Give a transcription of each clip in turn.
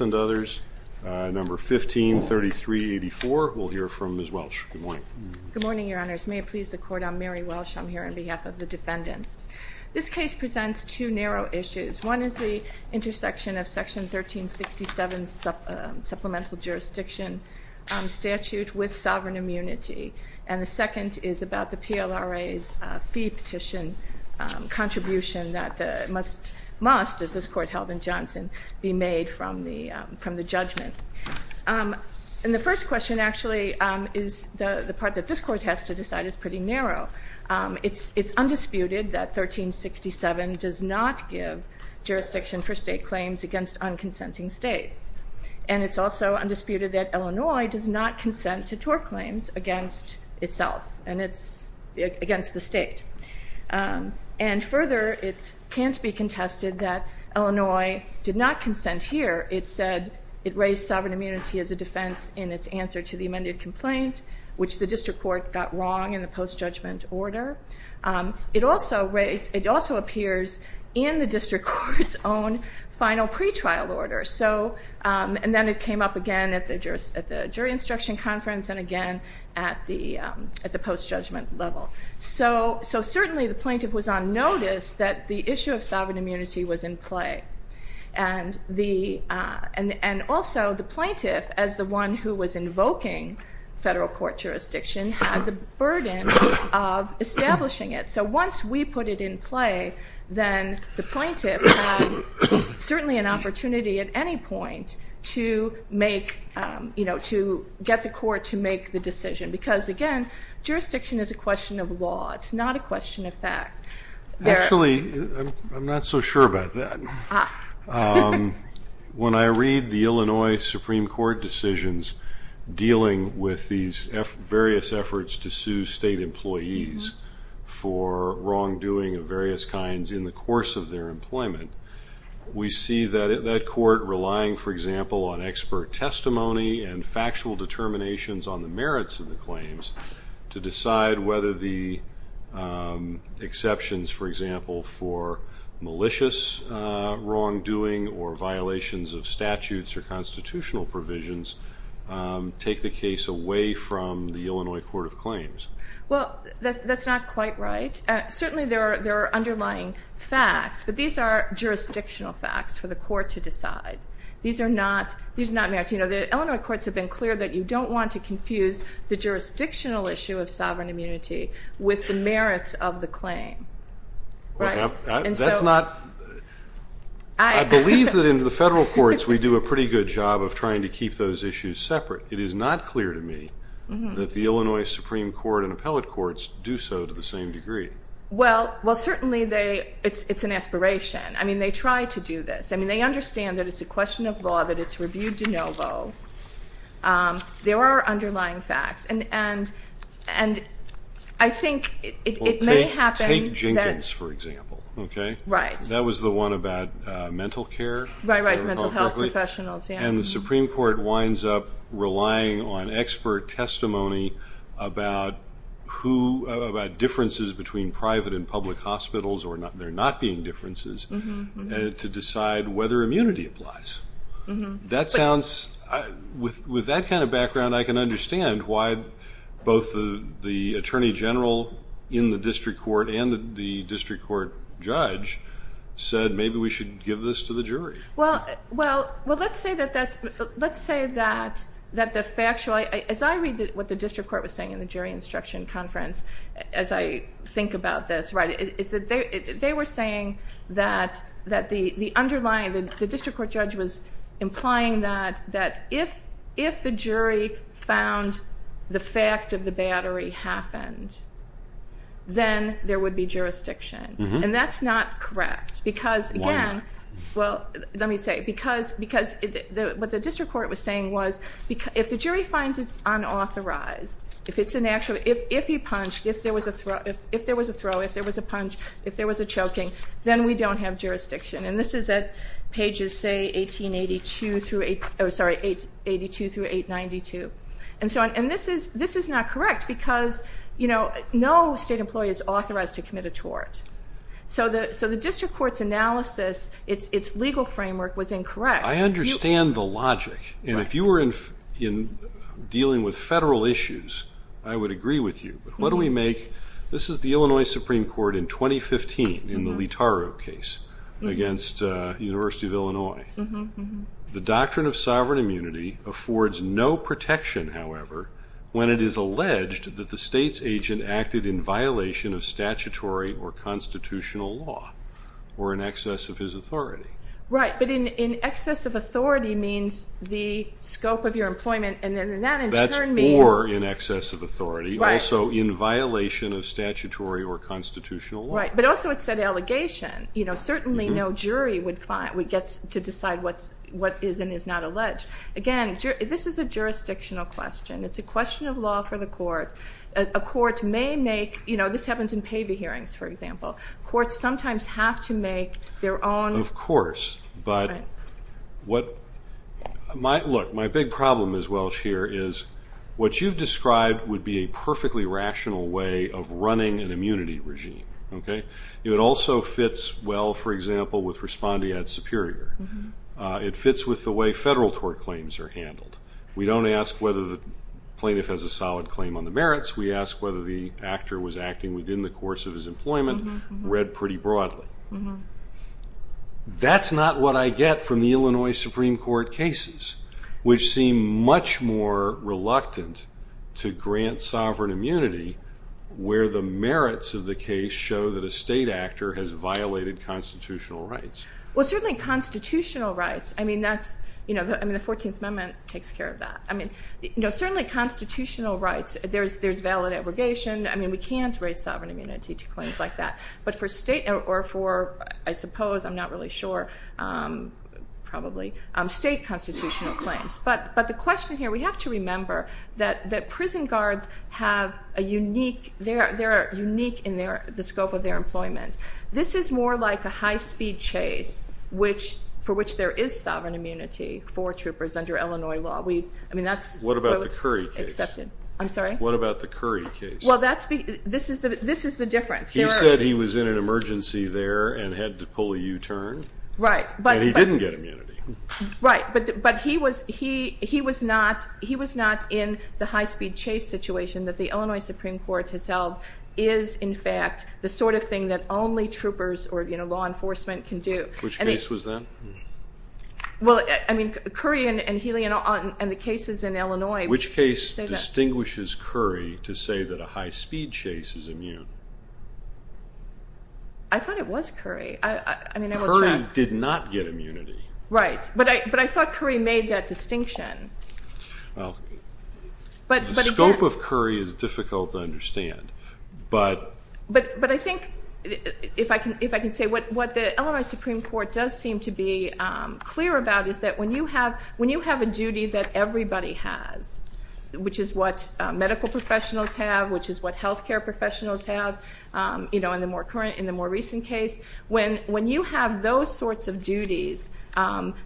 and others, number 153384. We'll hear from Ms. Welch. Good morning, your honors. May it please the court, I'm Mary Welch. I'm here on behalf of the defendants. This case presents two narrow issues. One is the intersection of section 1367 supplemental jurisdiction statute with sovereign immunity. And the second is about the PLRA's fee petition contribution that must, as this court held in Johnson, be made from the judgment. And the first question actually is the part that this court has to decide is pretty narrow. It's undisputed that 1367 does not give jurisdiction for state claims against unconsenting states. And it's also undisputed that Illinois does not consent to tort claims against itself and against the state. And further, it can't be contested that Illinois did not consent here. It said it raised sovereign immunity as a defense in its answer to the amended complaint, which the district court got wrong in the post-judgment order. It also appears in the district court's own final pretrial order. And then it came up again at the jury instruction conference and again at the post-judgment level. So certainly the plaintiff was on notice that the issue of sovereign immunity was in play. And also the plaintiff, as the one who was invoking federal court jurisdiction, had the burden of establishing it. So once we put it in play, then the plaintiff had certainly an opportunity at any point to get the court to make the decision. Because, again, jurisdiction is a question of law. It's not a question of fact. Actually, I'm not so sure about that. When I read the Illinois Supreme Court decisions dealing with these various efforts to sue state employees for wrongdoing of various kinds in the course of their employment, we see that court relying, for example, on expert testimony and factual determinations on the merits of the claims to decide whether the exceptions, for example, for malicious wrongdoing or violations of statutes or constitutional provisions take the case away from the Illinois Court of Claims. Well, that's not quite right. Certainly there are underlying facts, but these are jurisdictional facts for the court to decide. These are not merits. You know, the Illinois courts have been clear that you don't want to confuse the jurisdictional issue of sovereign immunity with the merits of the claim. Right? That's not – I believe that in the federal courts we do a pretty good job of trying to keep those issues separate. However, it is not clear to me that the Illinois Supreme Court and appellate courts do so to the same degree. Well, certainly it's an aspiration. I mean, they try to do this. I mean, they understand that it's a question of law, that it's review de novo. There are underlying facts, and I think it may happen that – Well, take Jenkins, for example, okay? Right. That was the one about mental care. Right, right, mental health professionals, yeah. And the Supreme Court winds up relying on expert testimony about differences between private and public hospitals, or there not being differences, to decide whether immunity applies. With that kind of background, I can understand why both the attorney general in the district court and the district court judge said, maybe we should give this to the jury. Well, let's say that the factual – as I read what the district court was saying in the jury instruction conference as I think about this, they were saying that the underlying – the district court judge was implying that if the jury found the fact of the battery happened, then there would be jurisdiction. And that's not correct. Why not? Well, let me say, because what the district court was saying was, if the jury finds it's unauthorized, if it's an actual – if he punched, if there was a throw, if there was a punch, if there was a choking, then we don't have jurisdiction. And this is at pages, say, 1882 through – oh, sorry, 1882 through 892. And this is not correct, because no state employee is authorized to commit a tort. So the district court's analysis, it's legal framework was incorrect. I understand the logic. And if you were dealing with federal issues, I would agree with you. But what do we make – this is the Illinois Supreme Court in 2015 in the Litaro case against the University of Illinois. The doctrine of sovereign immunity affords no protection, however, when it is alleged that the state's agent acted in violation of statutory or constitutional law or in excess of his authority. Right. But in excess of authority means the scope of your employment, and that in turn means – That's more in excess of authority. Right. Also in violation of statutory or constitutional law. Right. But also it's an allegation. You know, certainly no jury would get to decide what is and is not alleged. Again, this is a jurisdictional question. It's a question of law for the court. A court may make – you know, this happens in PAVI hearings, for example. Courts sometimes have to make their own – Of course. Right. But what – look, my big problem is, Welch, here, is what you've described would be a perfectly rational way of running an immunity regime, okay? It also fits well, for example, with respondeat superior. It fits with the way federal tort claims are handled. We don't ask whether the plaintiff has a solid claim on the merits. We ask whether the actor was acting within the course of his employment, read pretty broadly. That's not what I get from the Illinois Supreme Court cases, which seem much more reluctant to grant sovereign immunity, where the merits of the case show that a state actor has violated constitutional rights. Well, certainly constitutional rights. I mean, that's – I mean, the 14th Amendment takes care of that. I mean, certainly constitutional rights, there's valid abrogation. I mean, we can't raise sovereign immunity to claims like that. But for state – or for, I suppose, I'm not really sure, probably, state constitutional claims. But the question here, we have to remember that prison guards have a unique – they are unique in the scope of their employment. This is more like a high-speed chase for which there is sovereign immunity for troopers under Illinois law. I mean, that's what was accepted. What about the Curry case? I'm sorry? What about the Curry case? Well, this is the difference. He said he was in an emergency there and had to pull a U-turn. Right. And he didn't get immunity. Right. But he was not in the high-speed chase situation that the Illinois Supreme Court has held is, in fact, the sort of thing that only troopers or law enforcement can do. Which case was that? Well, I mean, Curry and Healy and the cases in Illinois. Which case distinguishes Curry to say that a high-speed chase is immune? I thought it was Curry. I mean, I will check. Curry did not get immunity. Right. But I thought Curry made that distinction. Well, the scope of Curry is difficult to understand. But I think, if I can say, what the Illinois Supreme Court does seem to be clear about is that when you have a duty that everybody has, which is what medical professionals have, which is what health care professionals have, you know, in the more recent case, when you have those sorts of duties,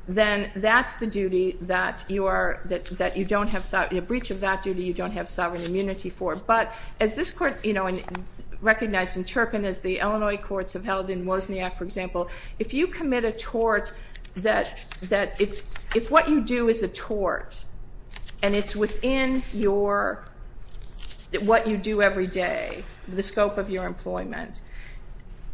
then that's the duty that you don't have, a breach of that duty you don't have sovereign immunity for. But as this Court, you know, recognized in Turpin, as the Illinois courts have held in Wozniak, for example, if you commit a tort that if what you do is a tort, and it's within what you do every day, the scope of your employment,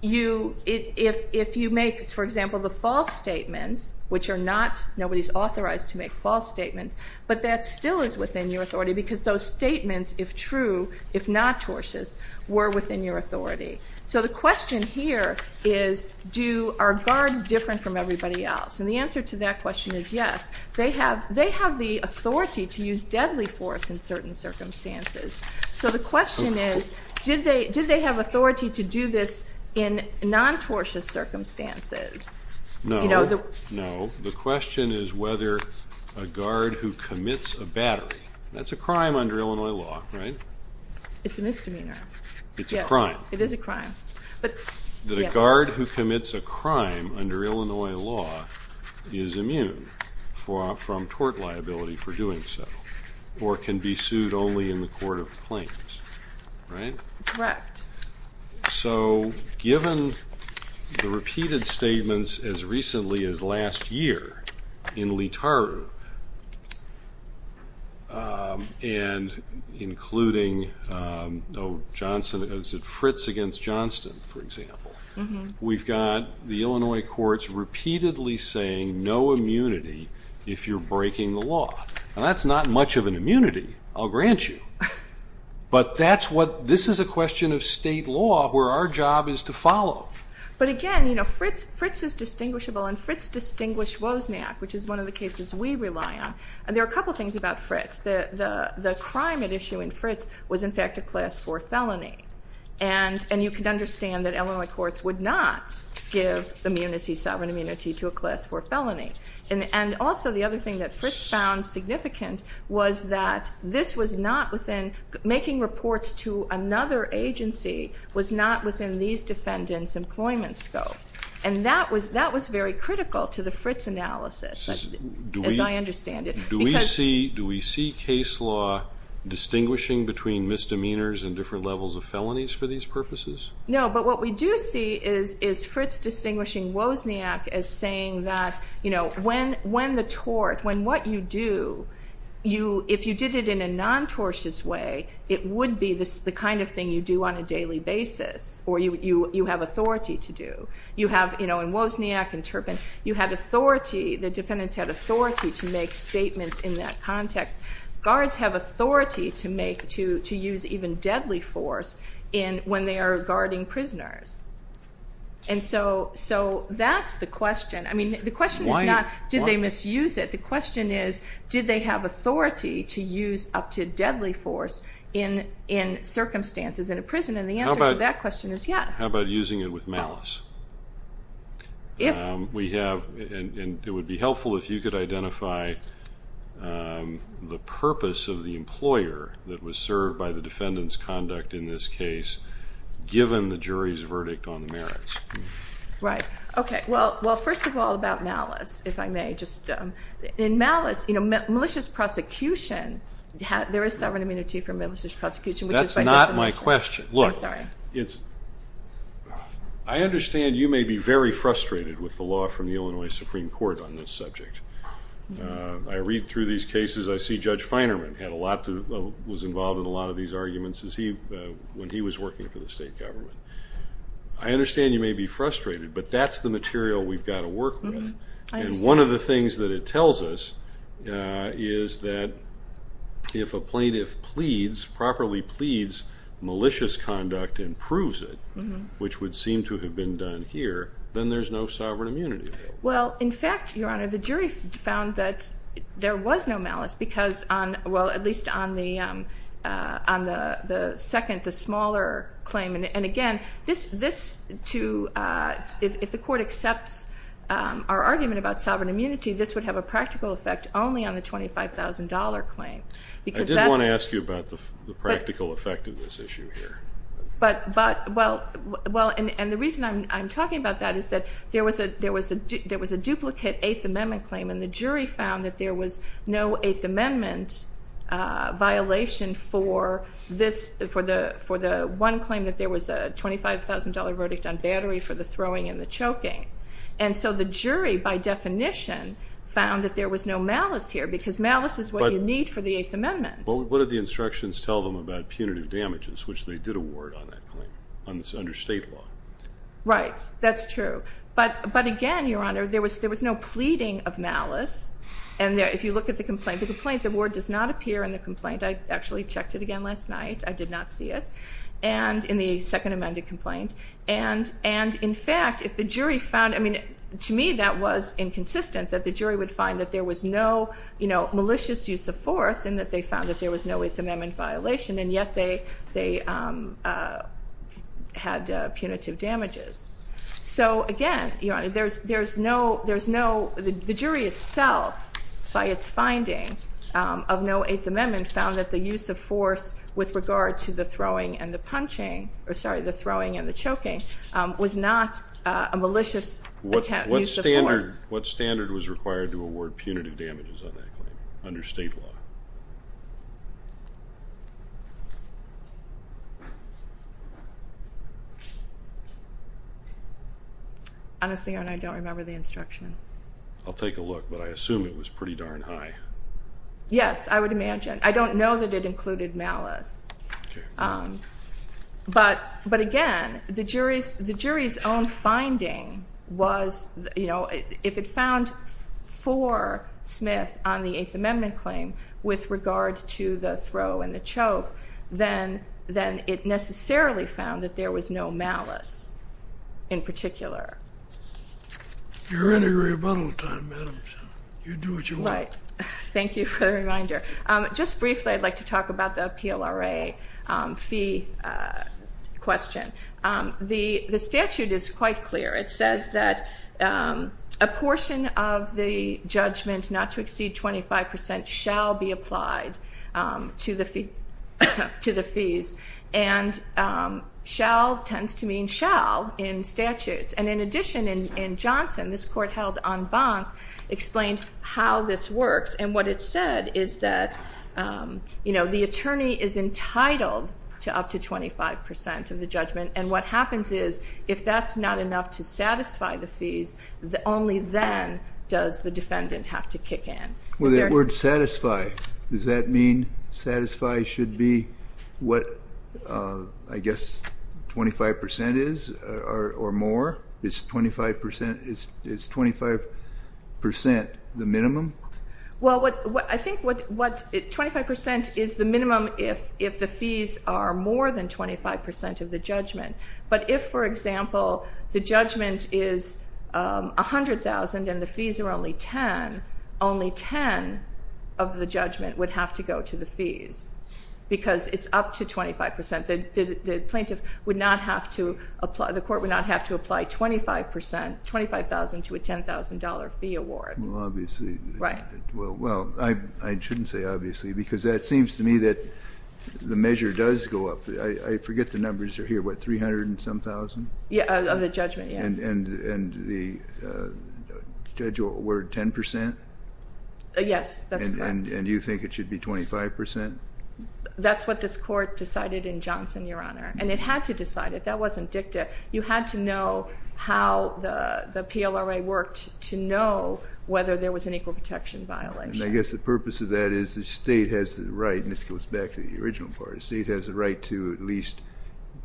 if you make, for example, the false statements, which are not, nobody's authorized to make false statements, but that still is within your authority because those statements, if true, if not tortious, were within your authority. So the question here is, are guards different from everybody else? And the answer to that question is yes. They have the authority to use deadly force in certain circumstances. So the question is, did they have authority to do this in non-tortious circumstances? No. No. The question is whether a guard who commits a battery, that's a crime under Illinois law, right? It's a misdemeanor. It's a crime. It is a crime. The guard who commits a crime under Illinois law is immune from tort liability for doing so or can be sued only in the court of claims, right? Correct. So given the repeated statements as recently as last year in Leetaru, and including Fritz against Johnston, for example, we've got the Illinois courts repeatedly saying no immunity if you're breaking the law. Now, that's not much of an immunity, I'll grant you. But this is a question of state law where our job is to follow. But again, Fritz is distinguishable, and Fritz distinguished Wozniak, which is one of the cases we rely on. And there are a couple of things about Fritz. The crime at issue in Fritz was, in fact, a class 4 felony. And you can understand that Illinois courts would not give immunity, sovereign immunity, to a class 4 felony. And also the other thing that Fritz found significant was that this was not within making reports to another agency was not within these defendants' employment scope. And that was very critical to the Fritz analysis, as I understand it. Do we see case law distinguishing between misdemeanors and different levels of felonies for these purposes? No, but what we do see is Fritz distinguishing Wozniak as saying that when the tort, when what you do, if you did it in a non-tortious way, it would be the kind of thing you do on a daily basis or you have authority to do. In Wozniak and Turpin, you had authority, the defendants had authority to make statements in that context. Guards have authority to use even deadly force when they are guarding prisoners. And so that's the question. I mean, the question is not did they misuse it. The question is did they have authority to use up to deadly force in circumstances in a prison? And the answer to that question is yes. How about using it with malice? We have, and it would be helpful if you could identify the purpose of the employer that was served by the defendant's conduct in this case given the jury's verdict on the merits. Right. Okay. Well, first of all, about malice, if I may. In malice, malicious prosecution, there is sovereign immunity for malicious prosecution. That's not my question. I'm sorry. Look, I understand you may be very frustrated with the law from the Illinois Supreme Court on this subject. I read through these cases. I see Judge Feinerman was involved in a lot of these arguments when he was working for the state government. I understand you may be frustrated, but that's the material we've got to work with. And one of the things that it tells us is that if a plaintiff properly pleads malicious conduct and proves it, which would seem to have been done here, then there's no sovereign immunity. Well, in fact, Your Honor, the jury found that there was no malice because, well, at least on the second, the smaller claim. And, again, if the court accepts our argument about sovereign immunity, this would have a practical effect only on the $25,000 claim. I did want to ask you about the practical effect of this issue here. But, well, and the reason I'm talking about that is that there was a duplicate Eighth Amendment claim, and the jury found that there was no Eighth Amendment violation for this, for the one claim that there was a $25,000 verdict on battery for the throwing and the choking. And so the jury, by definition, found that there was no malice here because malice is what you need for the Eighth Amendment. Well, what did the instructions tell them about punitive damages, which they did award on that claim under state law? Right. That's true. But, again, Your Honor, there was no pleading of malice. And if you look at the complaint, the complaint, the word does not appear in the complaint. I actually checked it again last night. I did not see it in the Second Amendment complaint. And, in fact, if the jury found, I mean, to me that was inconsistent, that the jury would find that there was no malicious use of force, and that they found that there was no Eighth Amendment violation, and yet they had punitive damages. So, again, Your Honor, there's no, the jury itself, by its finding of no Eighth Amendment, found that the use of force with regard to the throwing and the punching, or, sorry, the throwing and the choking, was not a malicious use of force. What standard was required to award punitive damages on that claim under state law? Honestly, Your Honor, I don't remember the instruction. I'll take a look, but I assume it was pretty darn high. Yes, I would imagine. I don't know that it included malice. But, again, the jury's own finding was, you know, if it found for Smith on the Eighth Amendment claim with regard to the throw and the choke, then it necessarily found that there was no malice in particular. You're in a rebuttal time, madam, so you do what you want. Right. Thank you for the reminder. Just briefly, I'd like to talk about the PLRA fee question. The statute is quite clear. It says that a portion of the judgment not to exceed 25 percent shall be applied to the fees, and shall tends to mean shall in statutes. And, in addition, in Johnson, this court held en banc explained how this works, and what it said is that, you know, the attorney is entitled to up to 25 percent of the judgment, and what happens is if that's not enough to satisfy the fees, only then does the defendant have to kick in. The word satisfy, does that mean satisfy should be what, I guess, 25 percent is or more? Is 25 percent the minimum? Well, I think 25 percent is the minimum if the fees are more than 25 percent of the judgment. But if, for example, the judgment is $100,000 and the fees are only $10,000, only $10,000 of the judgment would have to go to the fees because it's up to 25 percent. So the plaintiff would not have to apply, the court would not have to apply 25 percent, $25,000 to a $10,000 fee award. Well, obviously. Right. Well, I shouldn't say obviously because that seems to me that the measure does go up. I forget the numbers are here, what, 300 and some thousand? Yeah, of the judgment, yes. And the judge will award 10 percent? Yes, that's correct. And you think it should be 25 percent? That's what this court decided in Johnson, Your Honor. And it had to decide. If that wasn't dicta, you had to know how the PLRA worked to know whether there was an equal protection violation. And I guess the purpose of that is the state has the right, and this goes back to the original part, the state has the right to at least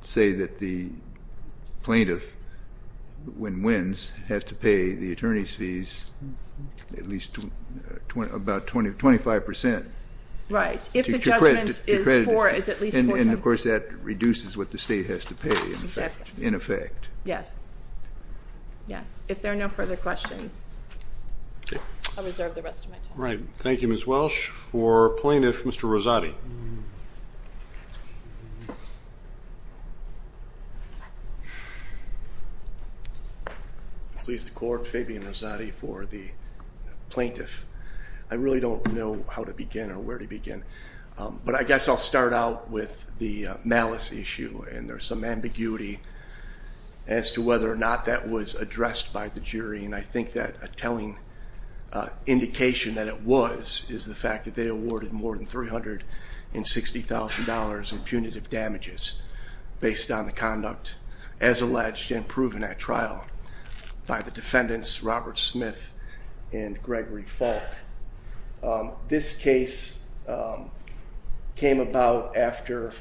say that the plaintiff, when wins, has to pay the attorney's fees at least about 25 percent. Right. If the judgment is at least 45 percent. And, of course, that reduces what the state has to pay in effect. Yes. Yes. If there are no further questions, I'll reserve the rest of my time. Right. Thank you, Ms. Welsh. For plaintiff, Mr. Rosati. Please, the Court, Fabian Rosati for the plaintiff. I really don't know how to begin or where to begin. But I guess I'll start out with the malice issue, and there's some ambiguity as to whether or not that was addressed by the jury. And I think that a telling indication that it was is the fact that they awarded more than $360,000 in punitive damages based on the conduct, as alleged and proven at trial, by the defendants, Robert Smith and Gregory Falk. This case came about after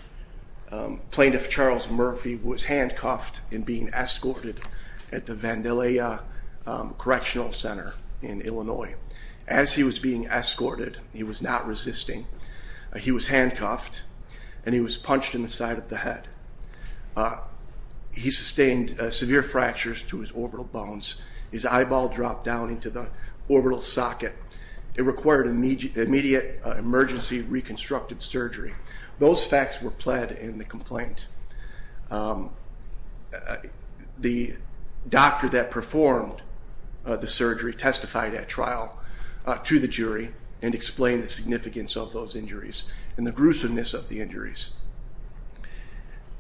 Plaintiff Charles Murphy was handcuffed and being escorted at the Vandalia Correctional Center in Illinois. As he was being escorted, he was not resisting. He was handcuffed, and he was punched in the side of the head. He sustained severe fractures to his orbital bones. His eyeball dropped down into the orbital socket. It required immediate emergency reconstructive surgery. Those facts were pled in the complaint. The doctor that performed the surgery testified at trial to the jury and explained the significance of those injuries and the gruesomeness of the injuries.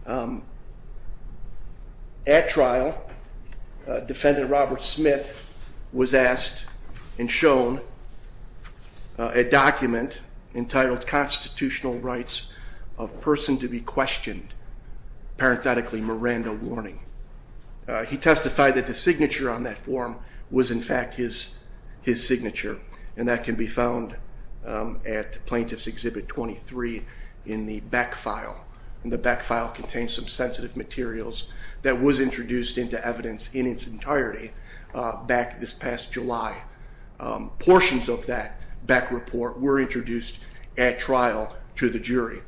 At trial, Defendant Robert Smith was asked and shown a document entitled Constitutional Rights of Person to be Questioned, parenthetically Miranda Warning. He testified that the signature on that form was, in fact, his signature, and that can be found at Plaintiff's Exhibit 23 in the Beck file. The Beck file contains some sensitive materials that was introduced into evidence in its entirety back this past July. Portions of that Beck report were introduced at trial to the jury,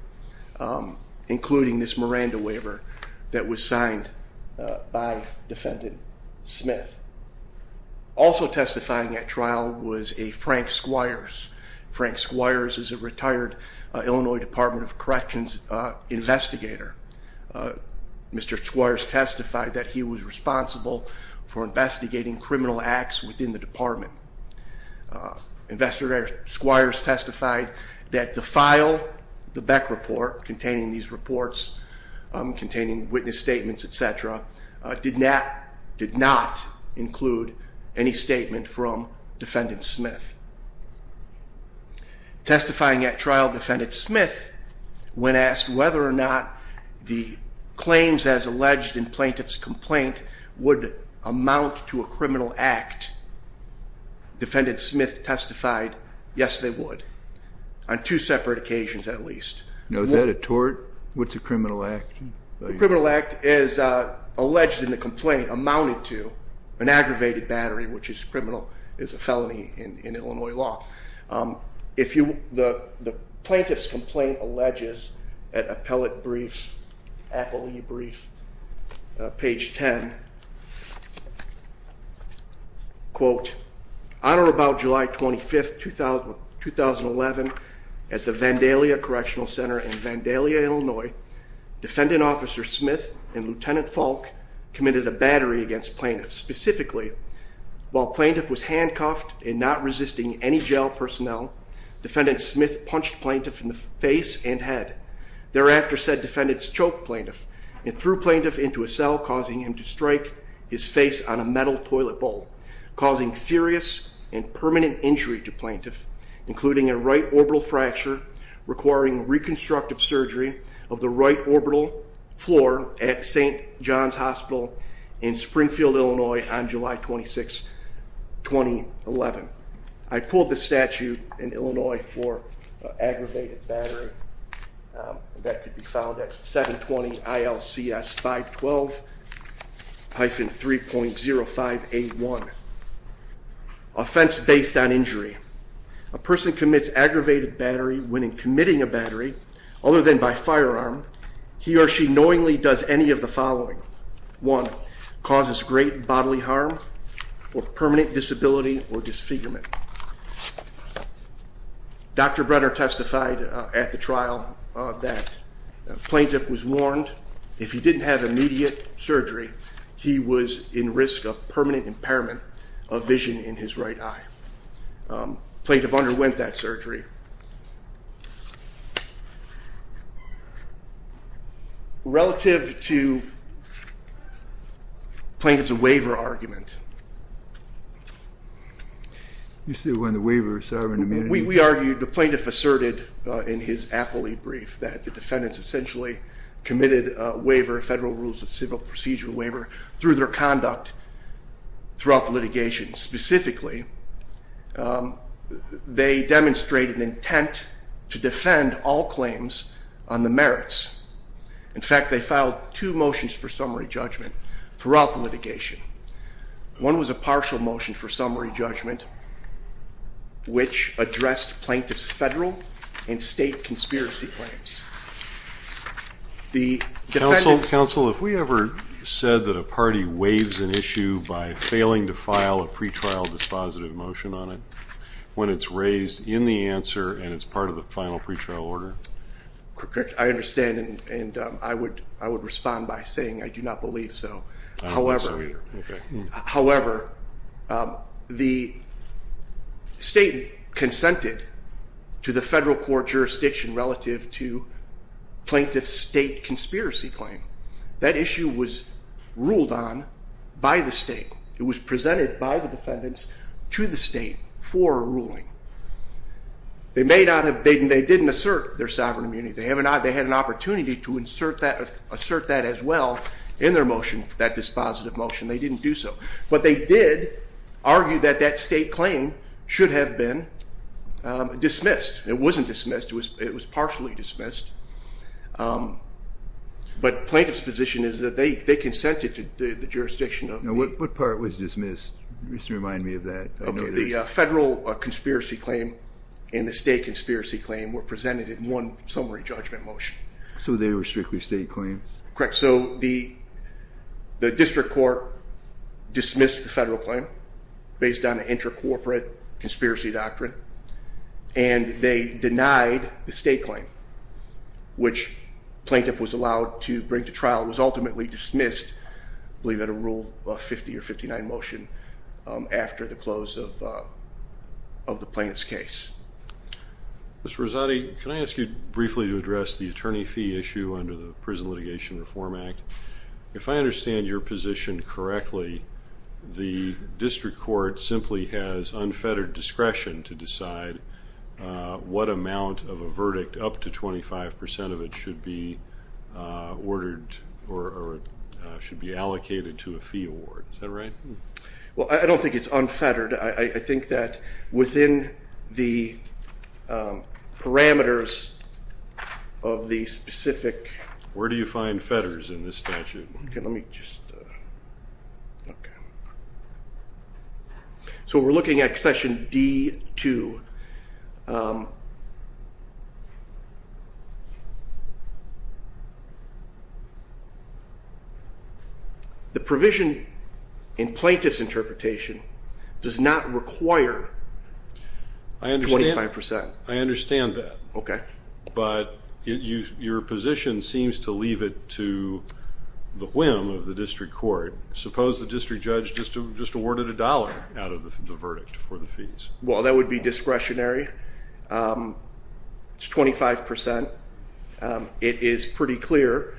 including this Miranda waiver that was signed by Defendant Smith. Also testifying at trial was a Frank Squires. Frank Squires is a retired Illinois Department of Corrections investigator. Mr. Squires testified that he was responsible for investigating criminal acts within the department. Investigator Squires testified that the file, the Beck report, containing these reports, containing witness statements, et cetera, did not include any statement from Defendant Smith. Testifying at trial, Defendant Smith, when asked whether or not the claims as alleged in Plaintiff's complaint would amount to a criminal act, Defendant Smith testified, yes, they would, on two separate occasions at least. Now, is that a tort? What's a criminal act? A criminal act is alleged in the complaint amounted to an aggravated battery, which is a felony in Illinois law. The Plaintiff's complaint alleges at appellate brief, appellee brief, page 10, quote, On or about July 25, 2011, at the Vandalia Correctional Center in Vandalia, Illinois, Defendant Officers Smith and Lieutenant Falk committed a battery against Plaintiff. Specifically, while Plaintiff was handcuffed and not resisting any jail personnel, Defendant Smith punched Plaintiff in the face and head. Thereafter, said defendants choked Plaintiff and threw Plaintiff into a cell, causing him to strike his face on a metal toilet bowl, causing serious and permanent injury to Plaintiff, including a right orbital fracture requiring reconstructive surgery of the right orbital floor at St. John's Hospital in Springfield, Illinois, on July 26, 2011. I pulled the statute in Illinois for aggravated battery. That could be found at 720-ILCS-512-3.0581. Offense based on injury. A person commits aggravated battery when in committing a battery, other than by firearm, he or she knowingly does any of the following. One, causes great bodily harm or permanent disability or disfigurement. Dr. Brenner testified at the trial that Plaintiff was warned if he didn't have immediate surgery, he was in risk of permanent impairment of vision in his right eye. Plaintiff underwent that surgery. Relative to Plaintiff's waiver argument. You said it wasn't a waiver of sovereign immunity? We argued, the Plaintiff asserted in his appellee brief that the defendants essentially committed a waiver, a federal rules of civil procedure waiver, through their conduct throughout the litigation. Specifically, they demonstrated an intent to defend all claims on the merits. In fact, they filed two motions for summary judgment throughout the litigation. One was a partial motion for summary judgment, which addressed Plaintiff's federal and state conspiracy claims. Counsel, if we ever said that a party waives an issue by failing to file a pre-trial dispositive motion on it, when it's raised in the answer and it's part of the final pre-trial order? I understand and I would respond by saying I do not believe so. However, the state consented to the federal court jurisdiction relative to Plaintiff's state conspiracy claim. That issue was ruled on by the state. It was presented by the defendants to the state for a ruling. They didn't assert their sovereign immunity. They had an opportunity to assert that as well in their motion, that dispositive motion. They didn't do so. But they did argue that that state claim should have been dismissed. It wasn't dismissed. It was partially dismissed. But Plaintiff's position is that they consented to the jurisdiction. What part was dismissed? Just remind me of that. The federal conspiracy claim and the state conspiracy claim were presented in one summary judgment motion. So they were strictly state claims? Correct. So the district court dismissed the federal claim based on an inter-corporate conspiracy doctrine. And they denied the state claim, which Plaintiff was allowed to bring to trial. It was ultimately dismissed, I believe, at a Rule 50 or 59 motion after the close of the Plaintiff's case. Mr. Rosati, can I ask you briefly to address the attorney fee issue under the Prison Litigation Reform Act? If I understand your position correctly, the district court simply has unfettered discretion to decide what amount of a verdict, up to 25 percent of it, should be ordered or should be allocated to a fee award. Is that right? Well, I don't think it's unfettered. I think that within the parameters of the specific – Where do you find fetters in this statute? So we're looking at section D. 2. The provision in Plaintiff's interpretation does not require 25 percent. I understand that. Okay. But your position seems to leave it to the whim of the district court. Suppose the district judge just awarded a dollar out of the verdict for the fees. Well, that would be discretionary. It's 25 percent. It is pretty clear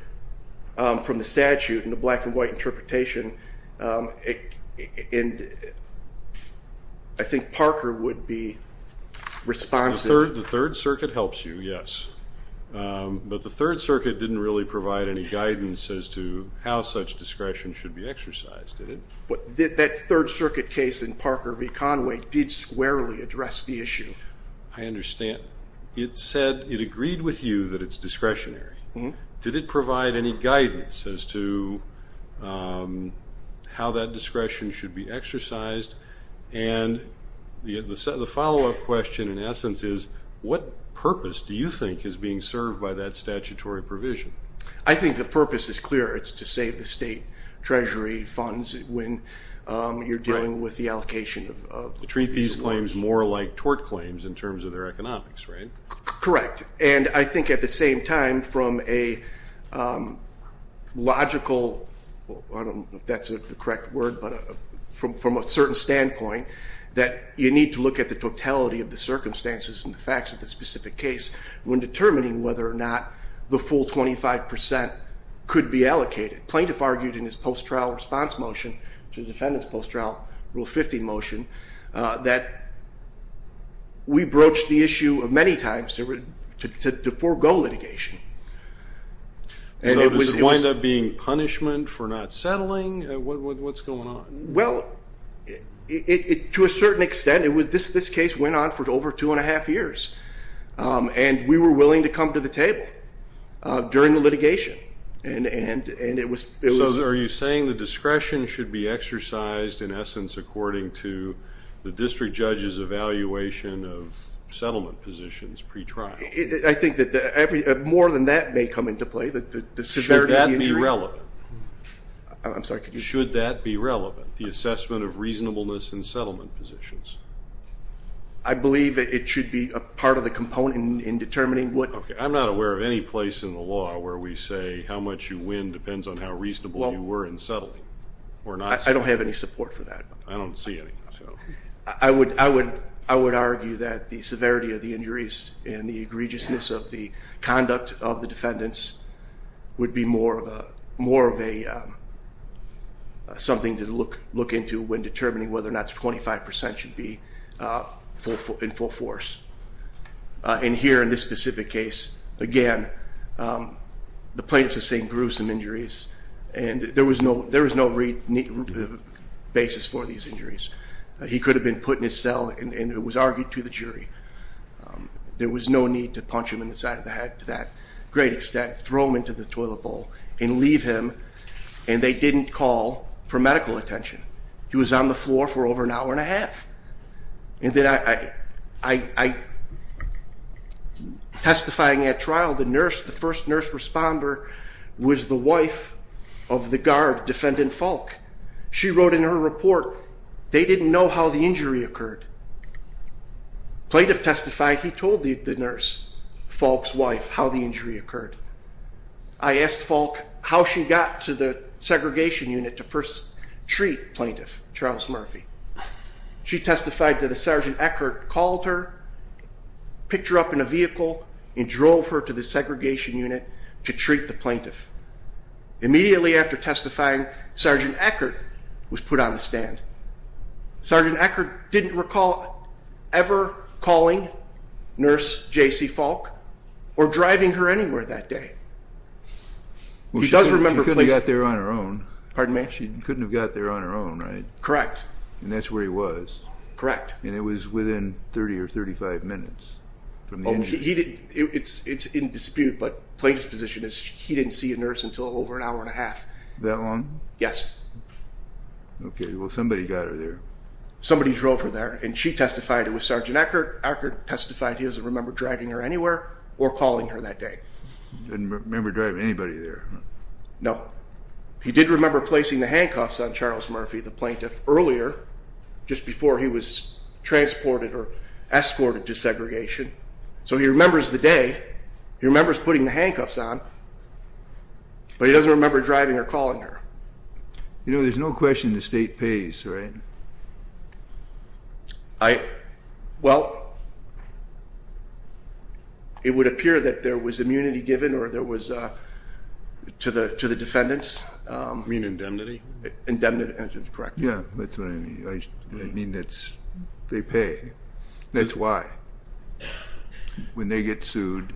from the statute in the black-and-white interpretation. I think Parker would be responsive. The Third Circuit helps you, yes. But the Third Circuit didn't really provide any guidance as to how such discretion should be exercised, did it? That Third Circuit case in Parker v. Conway did squarely address the issue. I understand. It said it agreed with you that it's discretionary. Did it provide any guidance as to how that discretion should be exercised? And the follow-up question, in essence, is what purpose do you think is being served by that statutory provision? I think the purpose is clear. It's to save the state treasury funds when you're dealing with the allocation of the fees. These claims more like tort claims in terms of their economics, right? Correct. And I think at the same time, from a logical, I don't know if that's the correct word, but from a certain standpoint, that you need to look at the totality of the circumstances and the facts of the specific case when determining whether or not the full 25 percent could be allocated. The plaintiff argued in his post-trial response motion, the defendant's post-trial Rule 50 motion, that we broached the issue many times to forego litigation. So does it wind up being punishment for not settling? What's going on? Well, to a certain extent, this case went on for over two and a half years. And we were willing to come to the table during the litigation. So are you saying the discretion should be exercised, in essence, according to the district judge's evaluation of settlement positions pre-trial? I think that more than that may come into play, the severity of the injury. Should that be relevant? I'm sorry. Should that be relevant, the assessment of reasonableness in settlement positions? I believe it should be a part of the component in determining what. I'm not aware of any place in the law where we say how much you win depends on how reasonable you were in settling. I don't have any support for that. I don't see any. I would argue that the severity of the injuries and the egregiousness of the conduct of the defendants would be more of something to look into when determining whether or not 25 percent should be in full force. And here in this specific case, again, the plaintiffs are saying gruesome injuries. And there was no basis for these injuries. He could have been put in his cell and it was argued to the jury. There was no need to punch him in the side of the head to that great extent, throw him into the toilet bowl, and leave him. And they didn't call for medical attention. He was on the floor for over an hour and a half. Testifying at trial, the first nurse responder was the wife of the guard, Defendant Falk. She wrote in her report, they didn't know how the injury occurred. Plaintiff testified, he told the nurse, Falk's wife, how the injury occurred. I asked Falk how she got to the segregation unit to first treat Plaintiff Charles Murphy. She testified that a Sergeant Eckert called her, picked her up in a vehicle, and drove her to the segregation unit to treat the plaintiff. Immediately after testifying, Sergeant Eckert was put on the stand. Sergeant Eckert didn't recall ever calling Nurse J.C. Falk or driving her anywhere that day. Well, she couldn't have got there on her own. Pardon me? She couldn't have got there on her own, right? Correct. And that's where he was. Correct. And it was within 30 or 35 minutes from the injury. It's in dispute, but Plaintiff's position is he didn't see a nurse until over an hour and a half. That long? Yes. Okay, well, somebody got her there. Somebody drove her there, and she testified it was Sergeant Eckert. Eckert testified he doesn't remember driving her anywhere or calling her that day. He doesn't remember driving anybody there. No. He did remember placing the handcuffs on Charles Murphy, the plaintiff, earlier, just before he was transported or escorted to segregation. So he remembers the day. He remembers putting the handcuffs on, but he doesn't remember driving or calling her. You know, there's no question the state pays, right? Well, it would appear that there was immunity given to the defendants. You mean indemnity? Indemnity, that's correct. Yeah, that's what I mean. I mean they pay. That's why. When they get sued,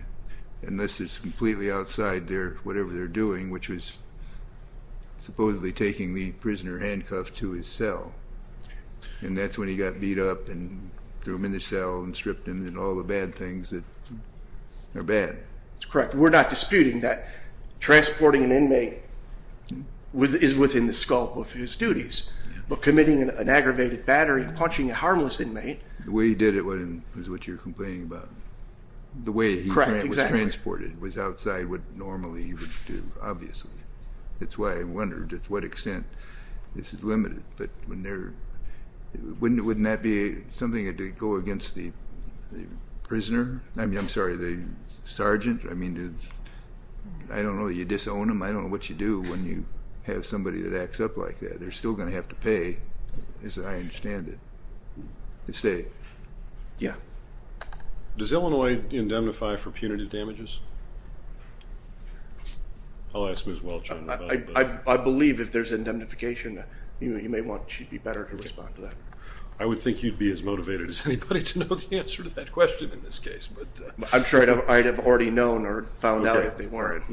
and this is completely outside whatever they're doing, which was supposedly taking the prisoner handcuffed to his cell, and that's when he got beat up and threw him in the cell and stripped him and all the bad things that are bad. That's correct. We're not disputing that transporting an inmate is within the scope of his duties, but committing an aggravated battery and punching a harmless inmate. The way he did it was what you're complaining about. Correct, exactly. It was outside what normally you would do, obviously. That's why I wondered to what extent this is limited. But wouldn't that be something to go against the prisoner? I mean, I'm sorry, the sergeant? I mean, I don't know, you disown them? I don't know what you do when you have somebody that acts up like that. They're still going to have to pay, as I understand it, the state. Yeah. Does Illinois indemnify for punitive damages? I'll ask Ms. Welch on that. I believe if there's indemnification, you may want she'd be better to respond to that. I would think you'd be as motivated as anybody to know the answer to that question in this case. I'm sure I'd have already known or found out if they weren't.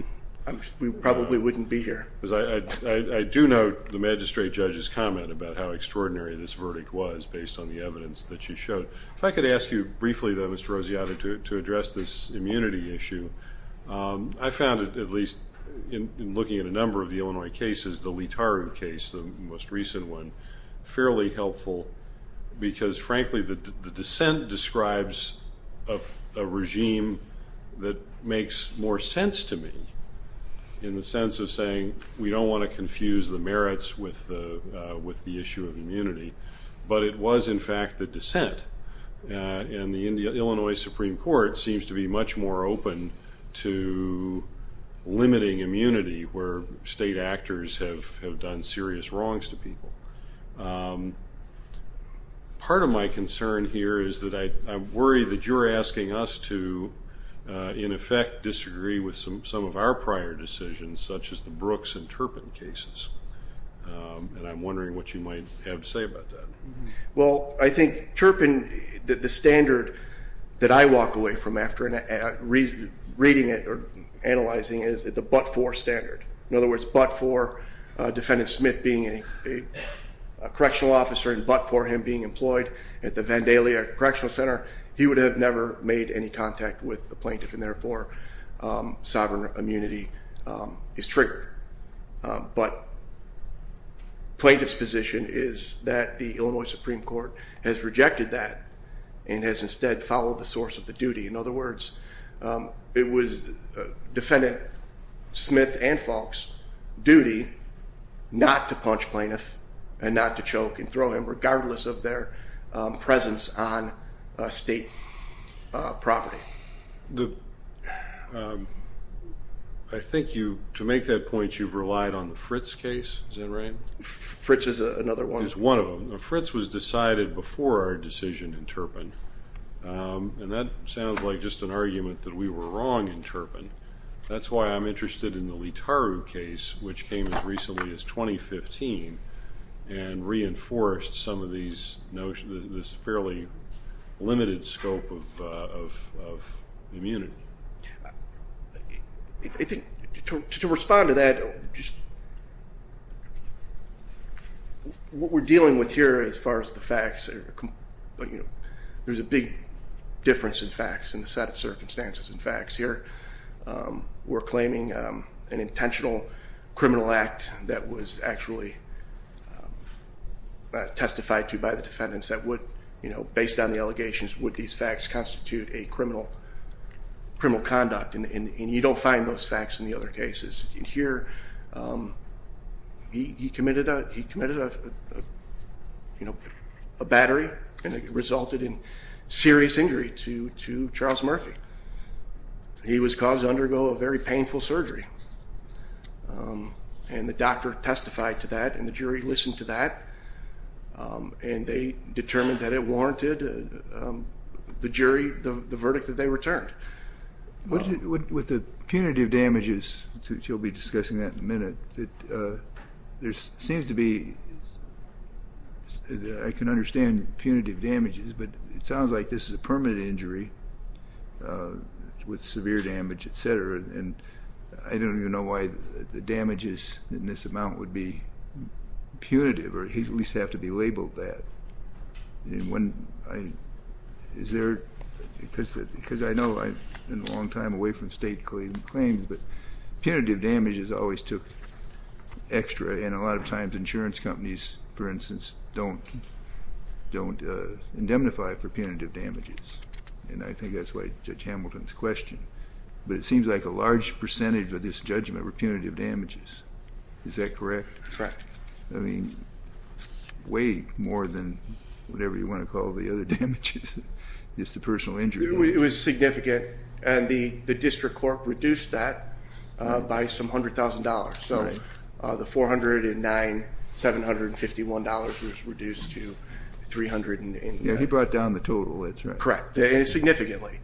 We probably wouldn't be here. I do note the magistrate judge's comment about how extraordinary this verdict was based on the evidence that she showed. If I could ask you briefly, though, Mr. Rosiata, to address this immunity issue. I found it, at least in looking at a number of the Illinois cases, the Leetaru case, the most recent one, fairly helpful because, frankly, the dissent describes a regime that makes more sense to me in the sense of saying we don't want to confuse the merits with the issue of immunity. But it was, in fact, the dissent. And the Illinois Supreme Court seems to be much more open to limiting immunity where state actors have done serious wrongs to people. Part of my concern here is that I worry that you're asking us to, in effect, disagree with some of our prior decisions, such as the Brooks and Turpin cases. And I'm wondering what you might have to say about that. Well, I think Turpin, the standard that I walk away from after reading it or analyzing it is the but-for standard. In other words, but-for, Defendant Smith being a correctional officer and but-for him being employed at the Vandalia Correctional Center, he would have never made any contact with the plaintiff, and therefore sovereign immunity is triggered. But plaintiff's position is that the Illinois Supreme Court has rejected that and has instead followed the source of the duty. In other words, it was Defendant Smith and Falk's duty not to punch plaintiff and not to choke and throw him, regardless of their presence on state property. I think to make that point, you've relied on the Fritz case. Is that right? Fritz is another one. It's one of them. Now, Fritz was decided before our decision in Turpin, and that sounds like just an argument that we were wrong in Turpin. That's why I'm interested in the Litaru case, which came as recently as 2015, and reinforced some of these notions, this fairly limited scope of immunity. I think to respond to that, what we're dealing with here as far as the facts, there's a big difference in facts and the set of circumstances and facts here. We're claiming an intentional criminal act that was actually testified to by the defendants that would, based on the allegations, would these facts constitute a criminal conduct, and you don't find those facts in the other cases. In here, he committed a battery and it resulted in serious injury to Charles Murphy. He was caused to undergo a very painful surgery, and the doctor testified to that and the jury listened to that, and they determined that it warranted the jury the verdict that they returned. With the punitive damages, which you'll be discussing that in a minute, there seems to be, I can understand punitive damages, but it sounds like this is a permanent injury with severe damage, et cetera, and I don't even know why the damages in this amount would be punitive or at least have to be labeled that. Because I know I've been a long time away from state claims, but punitive damages always took extra, and a lot of times insurance companies, for instance, don't indemnify for punitive damages, and I think that's why Judge Hamilton's question, but it seems like a large percentage of this judgment were punitive damages. Is that correct? Correct. I mean, way more than whatever you want to call the other damages. It's the personal injury damages. It was significant, and the district court reduced that by some $100,000, so the $409,751 was reduced to $300,000. Yeah, he brought down the total, that's right. Correct, and significantly.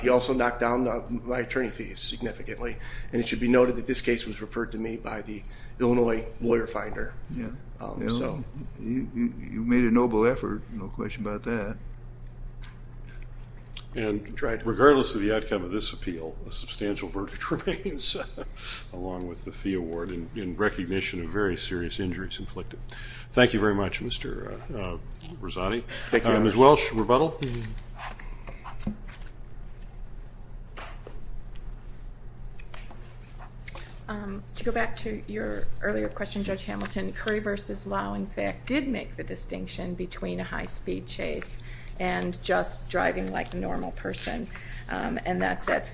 He also knocked down my attorney fees significantly, and it should be noted that this case was referred to me by the Illinois Lawyer Finder. Yeah, you made a noble effort, no question about that. And regardless of the outcome of this appeal, a substantial verdict remains, along with the fee award, in recognition of very serious injuries inflicted. Thank you very much, Mr. Rosati. Thank you. Ms. Welsh, rebuttal? To go back to your earlier question, Judge Hamilton, Curry v. Lowe, in fact, did make the distinction between a high-speed chase and just driving like a normal person, and that's at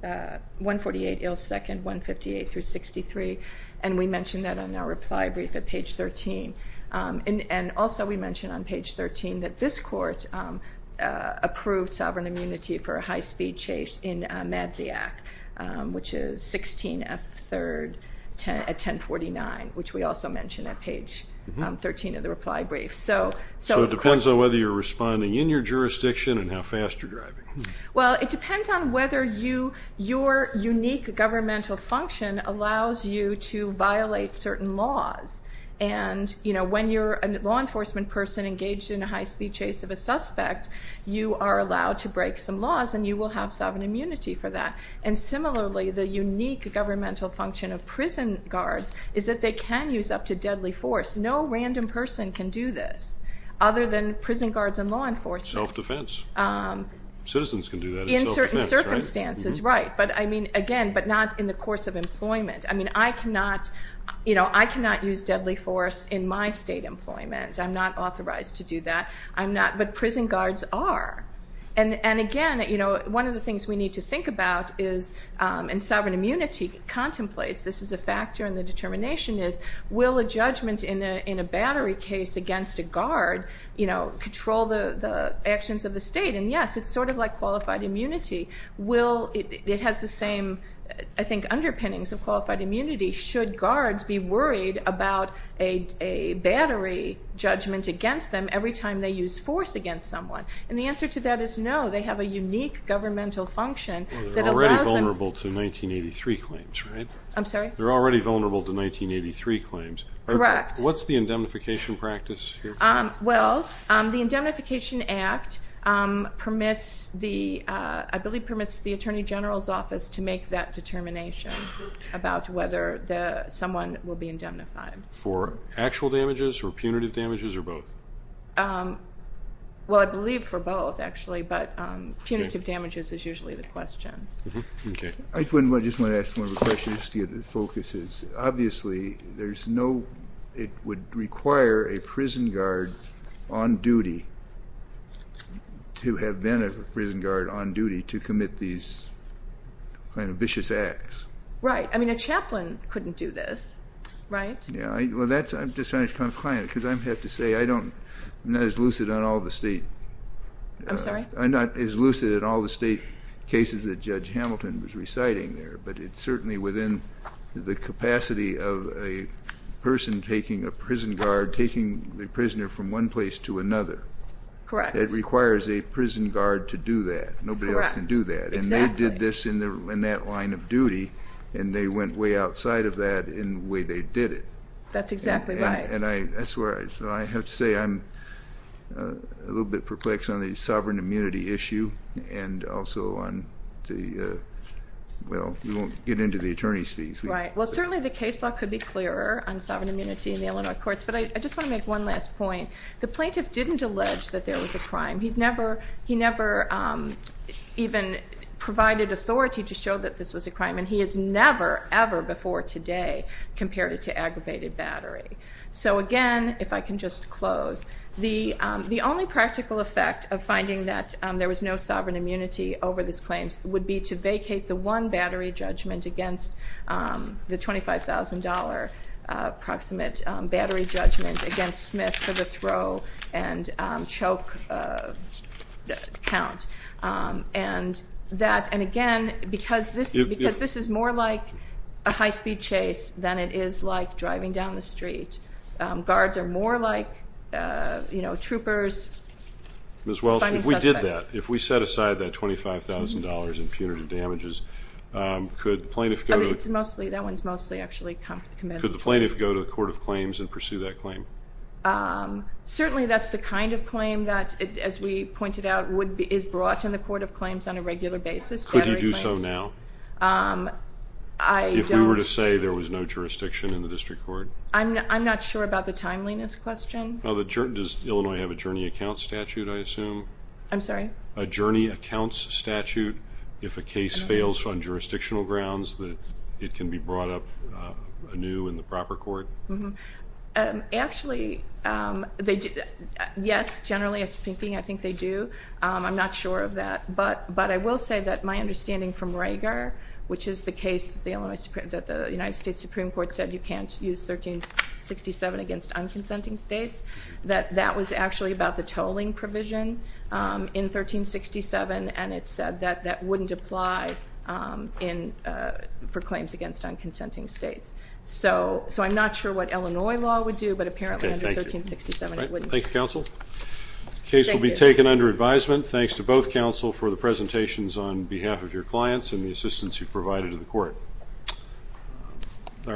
148 Ilsecond, 158 through 63, and we mentioned that on our reply brief at page 13. And also we mentioned on page 13 that this court approved sovereign immunity for a high-speed chase in Madziak, which is 16F3rd at 1049, which we also mentioned at page 13 of the reply brief. So it depends on whether you're responding in your jurisdiction and how fast you're driving. Well, it depends on whether your unique governmental function allows you to violate certain laws. And when you're a law enforcement person engaged in a high-speed chase of a suspect, you are allowed to break some laws and you will have sovereign immunity for that. And similarly, the unique governmental function of prison guards is that they can use up to deadly force. No random person can do this other than prison guards and law enforcement. Self-defense. Citizens can do that in self-defense, right? In certain circumstances, right. But, I mean, again, but not in the course of employment. I mean, I cannot use deadly force in my state employment. I'm not authorized to do that. But prison guards are. And, again, one of the things we need to think about is in sovereign immunity contemplates, this is a factor in the determination, is will a judgment in a battery case against a guard control the actions of the state? And, yes, it's sort of like qualified immunity. It has the same, I think, underpinnings of qualified immunity. Should guards be worried about a battery judgment against them every time they use force against someone? And the answer to that is no. They have a unique governmental function that allows them. Well, they're already vulnerable to 1983 claims, right? I'm sorry? They're already vulnerable to 1983 claims. Correct. What's the indemnification practice here? Well, the Indemnification Act permits the, I believe permits the Attorney General's Office to make that determination about whether someone will be indemnified. For actual damages or punitive damages or both? Well, I believe for both, actually. But punitive damages is usually the question. I just want to ask one of the questions to get the focus. Obviously, there's no, it would require a prison guard on duty to have been a prison guard on duty to commit these kind of vicious acts. Right. I mean, a chaplain couldn't do this, right? Yeah, well, I'm just trying to be compliant because I have to say I don't, I'm not as lucid on all the state. I'm sorry? I'm not as lucid on all the state cases that Judge Hamilton was reciting there, but it's certainly within the capacity of a person taking a prison guard, taking the prisoner from one place to another. Correct. It requires a prison guard to do that. Nobody else can do that. Correct. Exactly. And they did this in that line of duty, and they went way outside of that in the way they did it. That's exactly right. So I have to say I'm a little bit perplexed on the sovereign immunity issue and also on the, well, we won't get into the attorney's fees. Right. Well, certainly the case law could be clearer on sovereign immunity in the Illinois courts, but I just want to make one last point. The plaintiff didn't allege that there was a crime. He never even provided authority to show that this was a crime, and he has never, ever before today compared it to aggravated battery. So, again, if I can just close, the only practical effect of finding that there was no sovereign immunity over these claims would be to vacate the one battery judgment against the $25,000 approximate battery judgment against Smith for the throw and choke count. And, again, because this is more like a high-speed chase than it is like driving down the street. Guards are more like troopers. Ms. Welch, if we did that, if we set aside that $25,000 in punitive damages, could the plaintiff go to the court of claims and pursue that claim? Certainly that's the kind of claim that, as we pointed out, is brought to the court of claims on a regular basis, battery claims. Could he do so now? If we were to say there was no jurisdiction in the district court? I'm not sure about the timeliness question. Does Illinois have a journey accounts statute, I assume? I'm sorry? A journey accounts statute if a case fails on jurisdictional grounds, it can be brought up anew in the proper court? Actually, yes, generally speaking, I think they do. I'm not sure of that. But I will say that my understanding from Rager, which is the case that the United States Supreme Court said you can't use 1367 against unconsenting states, that that was actually about the tolling provision in 1367, and it said that that wouldn't apply for claims against unconsenting states. So I'm not sure what Illinois law would do, but apparently under 1367 it wouldn't. Thank you, counsel. The case will be taken under advisement. Thanks to both counsel for the presentations on behalf of your clients